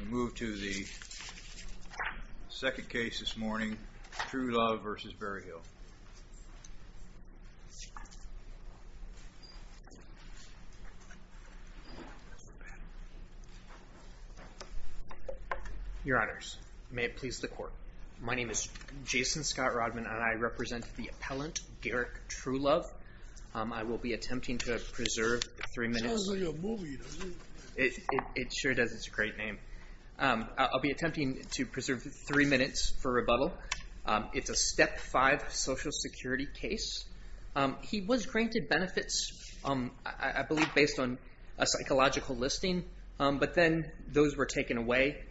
We move to the second case this morning, Truelove v. Berryhill. Your honors, may it please the court. My name is Jason Scott Rodman and I represent the appellant Garrick Truelove. I will be attempting to preserve three minutes for rebuttal. It's a Step 5 Social Security case. He was granted benefits, I believe based on a psychological listing, but then those were taken away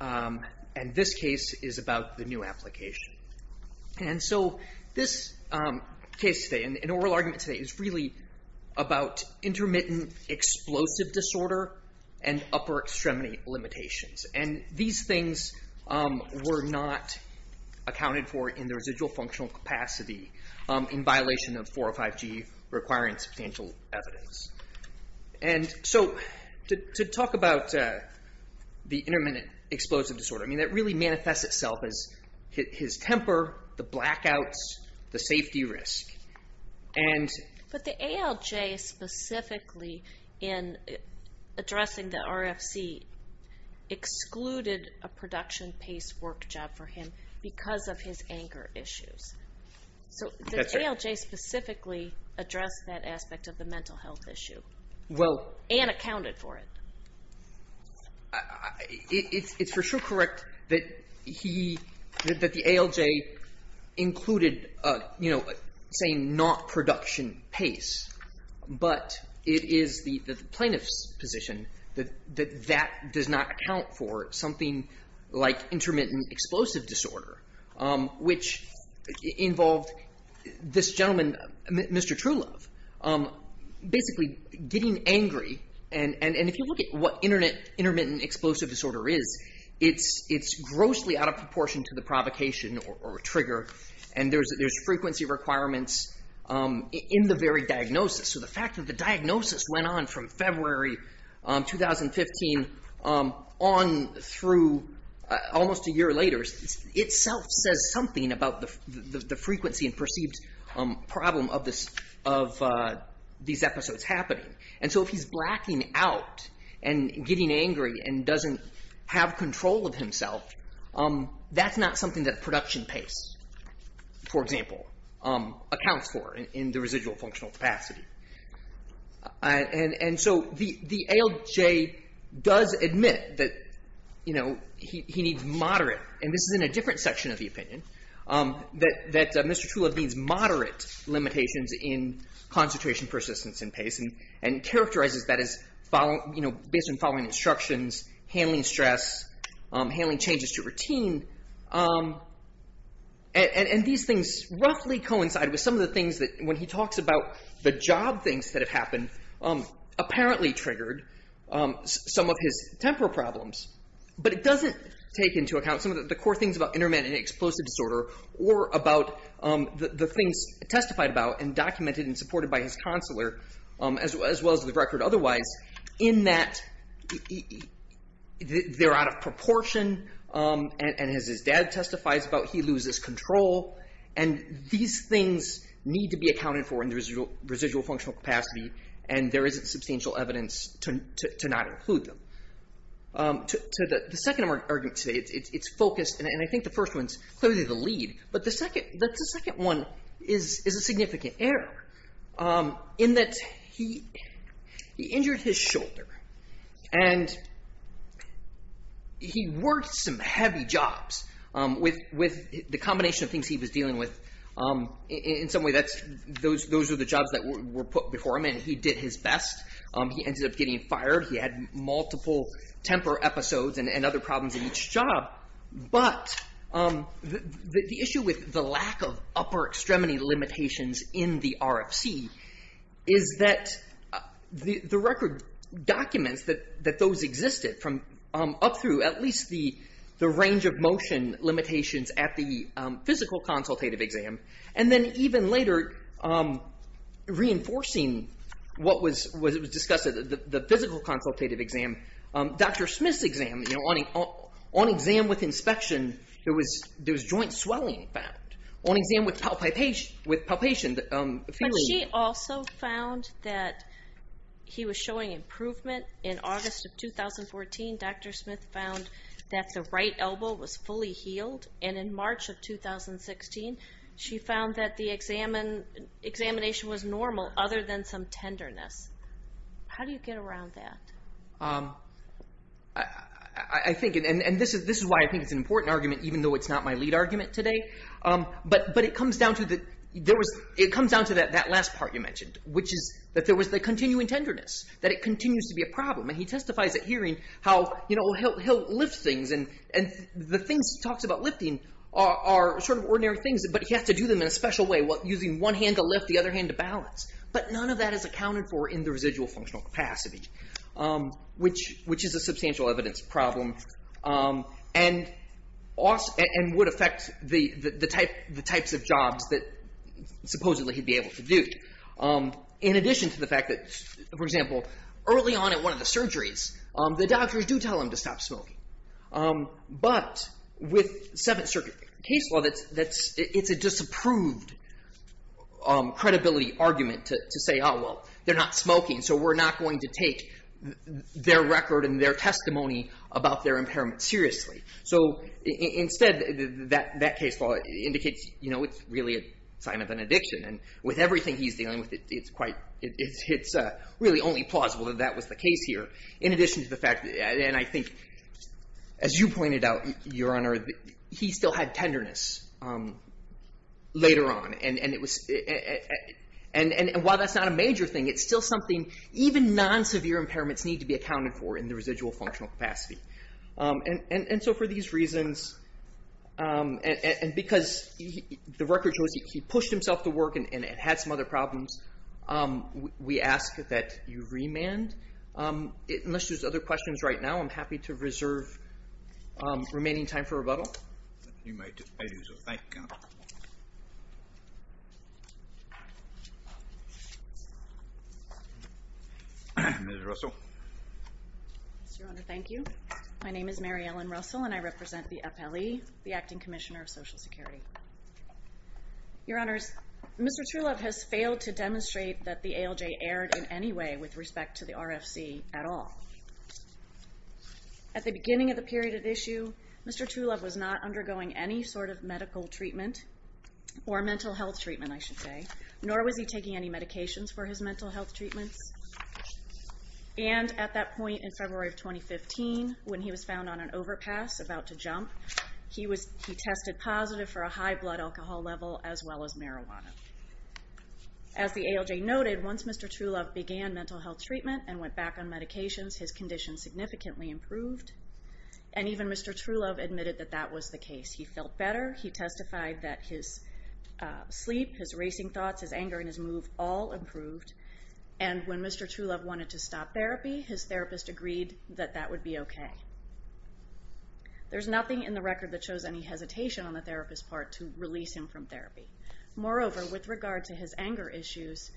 and this case is about the new application. And so this case today, an oral argument today, is really about intermittent explosive disorder and upper extremity limitations. And these things were not accounted for in the residual functional capacity in violation of 405G requiring substantial evidence. And so to talk about the intermittent explosive disorder, I mean that really manifests itself as his temper, the blackouts, the safety risk. But the ALJ specifically in addressing the RFC excluded a production-paced work job for him because of his anger issues. So did the ALJ specifically address that aspect of the mental health issue and accounted for it? It's for sure correct that he, that the ALJ included, you know, saying not production pace, but it is the plaintiff's position that that does not account for something like intermittent explosive disorder, which involved this gentleman, Mr. Truelove, basically getting angry. And if you look at what intermittent explosive disorder is, it's grossly out of proportion to the provocation or trigger. And there's frequency requirements in the very diagnosis. So the fact that the diagnosis went on from February 2015 on through almost a year later itself says something about the frequency and perceived problem of these episodes happening. And so if he's blacking out and getting angry and doesn't have control of himself, that's not something that production pace, for example, accounts for in the residual functional capacity. And so the ALJ does admit that, you know, he needs moderate, and this is in a different section of the opinion, that Mr. Truelove needs moderate limitations in concentration persistence and pace and characterizes that as, you know, based on following instructions, handling stress, handling changes to routine. And these things roughly coincide with some of the things that when he talks about the job things that have happened, apparently triggered some of his temporal problems. But it doesn't take into account some of the core things about intermittent explosive disorder or about the things testified about and documented and supported by his counselor, as well as the record otherwise, in that they're out of proportion, and as his dad testifies about, he loses control. And these things need to be accounted for in the residual functional capacity, and there isn't substantial evidence to not include them. The second argument today, it's focused, and I think the first one's clearly the lead, but the second one is a significant error, in that he injured his shoulder, and he worked some heavy jobs with the combination of things he was dealing with. In some way, those are the jobs that were put before him, and he did his best. He ended up getting fired. He had multiple temper episodes and other problems in each job. But the issue with the lack of upper extremity limitations in the RFC is that the record documents that those existed from up through at least the range of motion limitations at the physical consultative exam, and then even later reinforcing what was discussed at the physical consultative exam, Dr. Smith's exam, on exam with inspection, there was joint swelling found. On exam with palpation, the feeling- But she also found that he was showing improvement. In August of 2014, Dr. Smith found that the right elbow was fully healed, and in March of 2016, she found that the examination was normal other than some tenderness. How do you get around that? This is why I think it's an important argument, even though it's not my lead argument today. But it comes down to that last part you mentioned, which is that there was the continuing tenderness, that it continues to be a problem. He testifies at hearing how he'll lift things, and the things he talks about lifting are ordinary things, but he has to do them in a special way, using one hand to lift, the other hand to balance. But none of that is accounted for in the residual functional capacity, which is a substantial evidence problem and would affect the types of jobs that supposedly he'd be able to do. In addition to the fact that, for example, early on at one of the surgeries, the doctors do tell him to stop smoking. But with Seventh Circuit case law, it's a disapproved credibility argument to say, oh, well, they're not smoking, so we're not going to take their record and their testimony about their impairment seriously. So instead, that case law indicates it's really a sign of an addiction. And with everything he's dealing with, it's really only plausible that that was the case here, in addition to the fact that, and I think, as you pointed out, Your Honor, he still had tenderness later on. And while that's not a major thing, it's still something even non-severe impairments need to be accounted for in the residual functional capacity. And so for these reasons, and because the record shows he pushed himself to work and had some other problems, we ask that you remand. Unless there's other questions right now, I'm happy to reserve remaining time for rebuttal. You may do so. Thank you, Counsel. Ms. Russell. Yes, Your Honor. Thank you. My name is Mary Ellen Russell, and I represent the FLE, the Acting Commissioner of Social Security. Your Honors, Mr. Truelove has failed to demonstrate that the ALJ erred in any way with respect to the RFC at all. At the beginning of the period of issue, Mr. Truelove was not undergoing any sort of medical treatment, or mental health treatment I should say, nor was he taking any medications for his mental health treatments. And at that point in February of 2015, when he was found on an overpass about to jump, he tested positive for a high blood alcohol level as well as marijuana. As the ALJ noted, once Mr. Truelove began mental health treatment and went back on medications, his condition significantly improved. And even Mr. Truelove admitted that that was the case. He felt better. He testified that his sleep, his racing thoughts, his anger in his mood, all improved. And when Mr. Truelove wanted to stop therapy, his therapist agreed that that would be okay. There's nothing in the record that shows any hesitation on the therapist's part to release him from therapy. Moreover, with regard to his anger issues,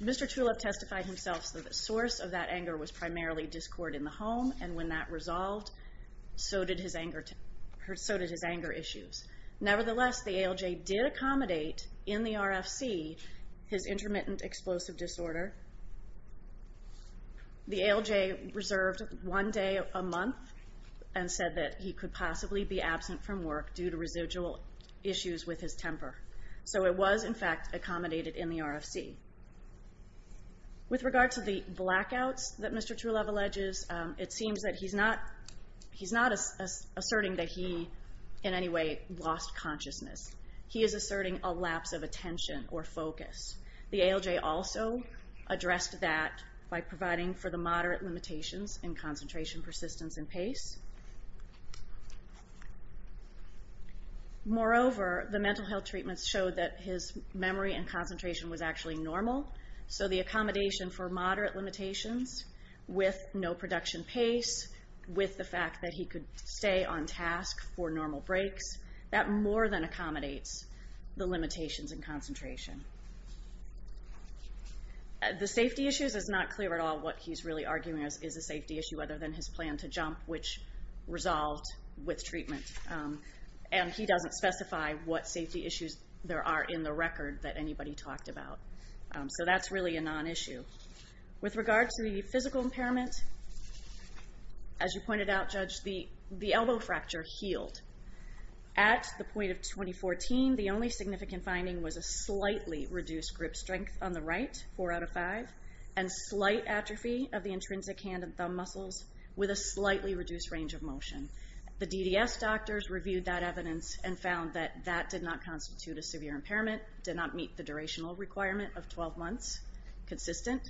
Mr. Truelove testified himself that the source of that anger was primarily discord in the home, and when that resolved, so did his anger issues. Nevertheless, the ALJ did accommodate in the RFC his intermittent explosive disorder. The ALJ reserved one day a month and said that he could possibly be absent from work due to residual issues with his temper. So it was in fact accommodated in the RFC. With regard to the blackouts that Mr. Truelove alleges, it seems that he's not asserting that he in any way lost consciousness. He is asserting a lapse of attention or focus. The ALJ also addressed that by providing for the moderate limitations in concentration, persistence, and pace. Moreover, the mental health treatments showed that his memory and cognition were normal, so the accommodation for moderate limitations with no production pace, with the fact that he could stay on task for normal breaks, that more than accommodates the limitations in concentration. The safety issues is not clear at all what he's really arguing is a safety issue other than his plan to jump, which resolved with treatment, and he doesn't specify what safety issues there are in the record that anybody talked about. So that's really a non-issue. With regard to the physical impairment, as you pointed out, Judge, the elbow fracture healed. At the point of 2014, the only significant finding was a slightly reduced grip strength on the right, 4 out of 5, and slight atrophy of the intrinsic hand and thumb muscles with a slightly reduced range of motion. The DDS doctors reviewed that evidence and found that that did not constitute a severe impairment, did not meet the durational requirement of 12 months, consistent,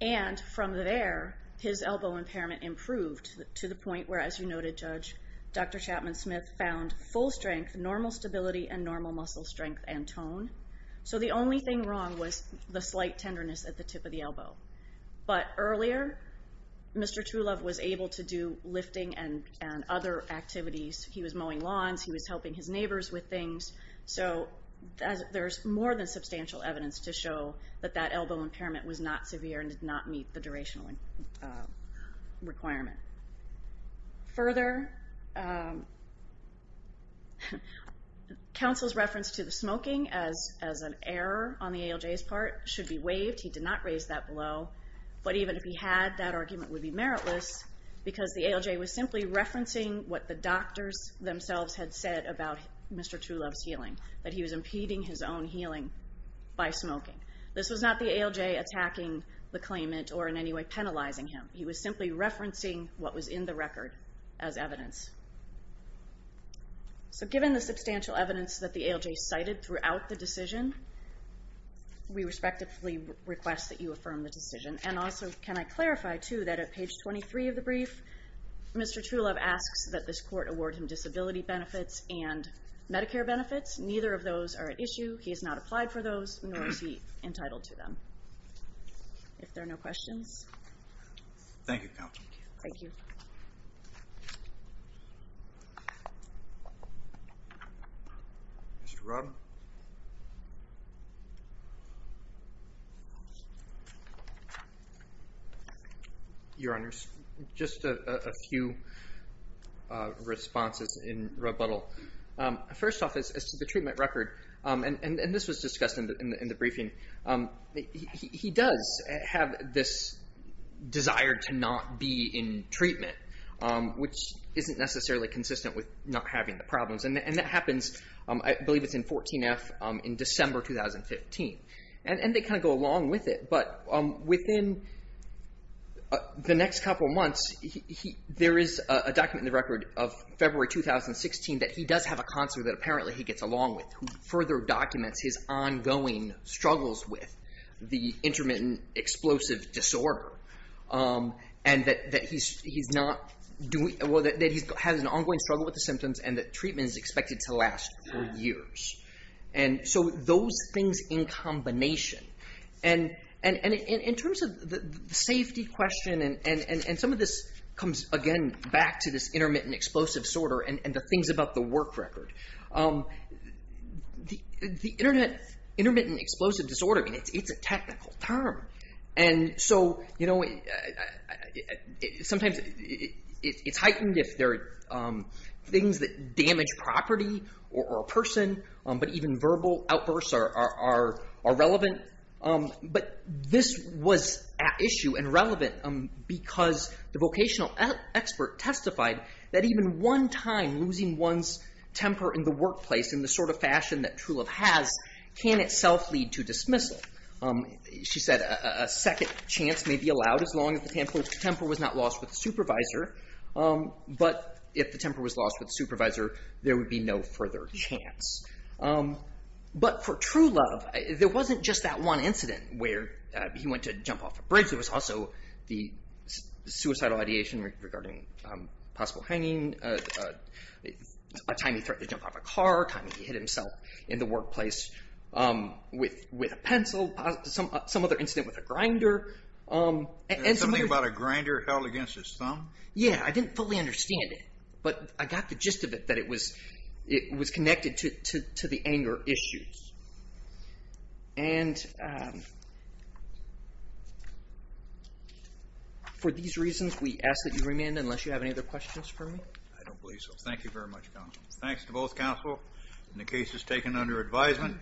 and from there, his elbow impairment improved to the point where, as you noted, Judge, Dr. Chapman-Smith found full strength, normal stability, and normal muscle strength and tone. So the only thing wrong was the slight tenderness at the tip of the elbow. But earlier, Mr. Truelove was able to do lifting and other activities. He was mowing lawns, he was helping his neighbors with things. So there's more than substantial evidence to show that that elbow impairment was not severe and did not meet the durational requirement. Further, counsel's reference to the smoking as an error on the ALJ's part should be waived. He did not raise that below. But even if he had, that argument would be meritless because the ALJ was simply referencing what the doctors themselves had said about Mr. Truelove's healing, that he was impeding his own healing by smoking. This was not the ALJ attacking the claimant or in any way penalizing him. He was simply referencing what was in the record as evidence. So given the substantial evidence that the ALJ cited throughout the decision, we respectively request that you affirm the decision. And also, can I clarify too that at page 23 of your brief, Mr. Truelove asks that this court award him disability benefits and Medicare benefits. Neither of those are at issue. He has not applied for those, nor is he entitled to them. If there are no questions. Thank you, counsel. Thank you. Mr. Robb. Your Honor, just a few responses in rebuttal. First off, as to the treatment record, and this was discussed in the briefing, he does have this desire to not be in treatment, which isn't necessarily consistent with not having the problems. And that happens, I believe it's in 14F, in December 2015. And they kind of go along with it. But within the next couple months, there is a document in the record of February 2016 that he does have a counselor that apparently he gets along with, who further documents his ongoing struggles with the intermittent explosive disorder. And that he has an ongoing struggle with the symptoms, and that treatment is expected to last for years. And so those things in combination. And in terms of the safety question, and some of this comes, again, back to this intermittent explosive disorder and the things about the work record. The intermittent explosive disorder, it's a technical term. And so, you know, sometimes it's heightened if there are things that damage property or a person, but even verbal outbursts are relevant. But this was at issue and relevant because the vocational expert testified that even one time, losing one's temper in the workplace in the sort of fashion that Trulove has, can itself lead to dismissal. She said a second chance may be allowed as long as the temper was not lost with the supervisor. But if the temper was lost with the supervisor, there would be no further chance. But for Trulove, there wasn't just that one incident where he went to jump off a bridge. There was also the suicidal ideation regarding possible hanging, a time he threatened to jump off a car, a time he hit himself in the workplace with a pencil, some other incident with a grinder. And something about a grinder held against his thumb? Yeah, I didn't fully understand it, but I got the gist of it, that it was connected to the anger issues. And for these reasons, we ask that you remain unless you have any other questions for me? I don't believe so. Thank you very much, counsel. Thanks to both counsel in the cases taken under advisement.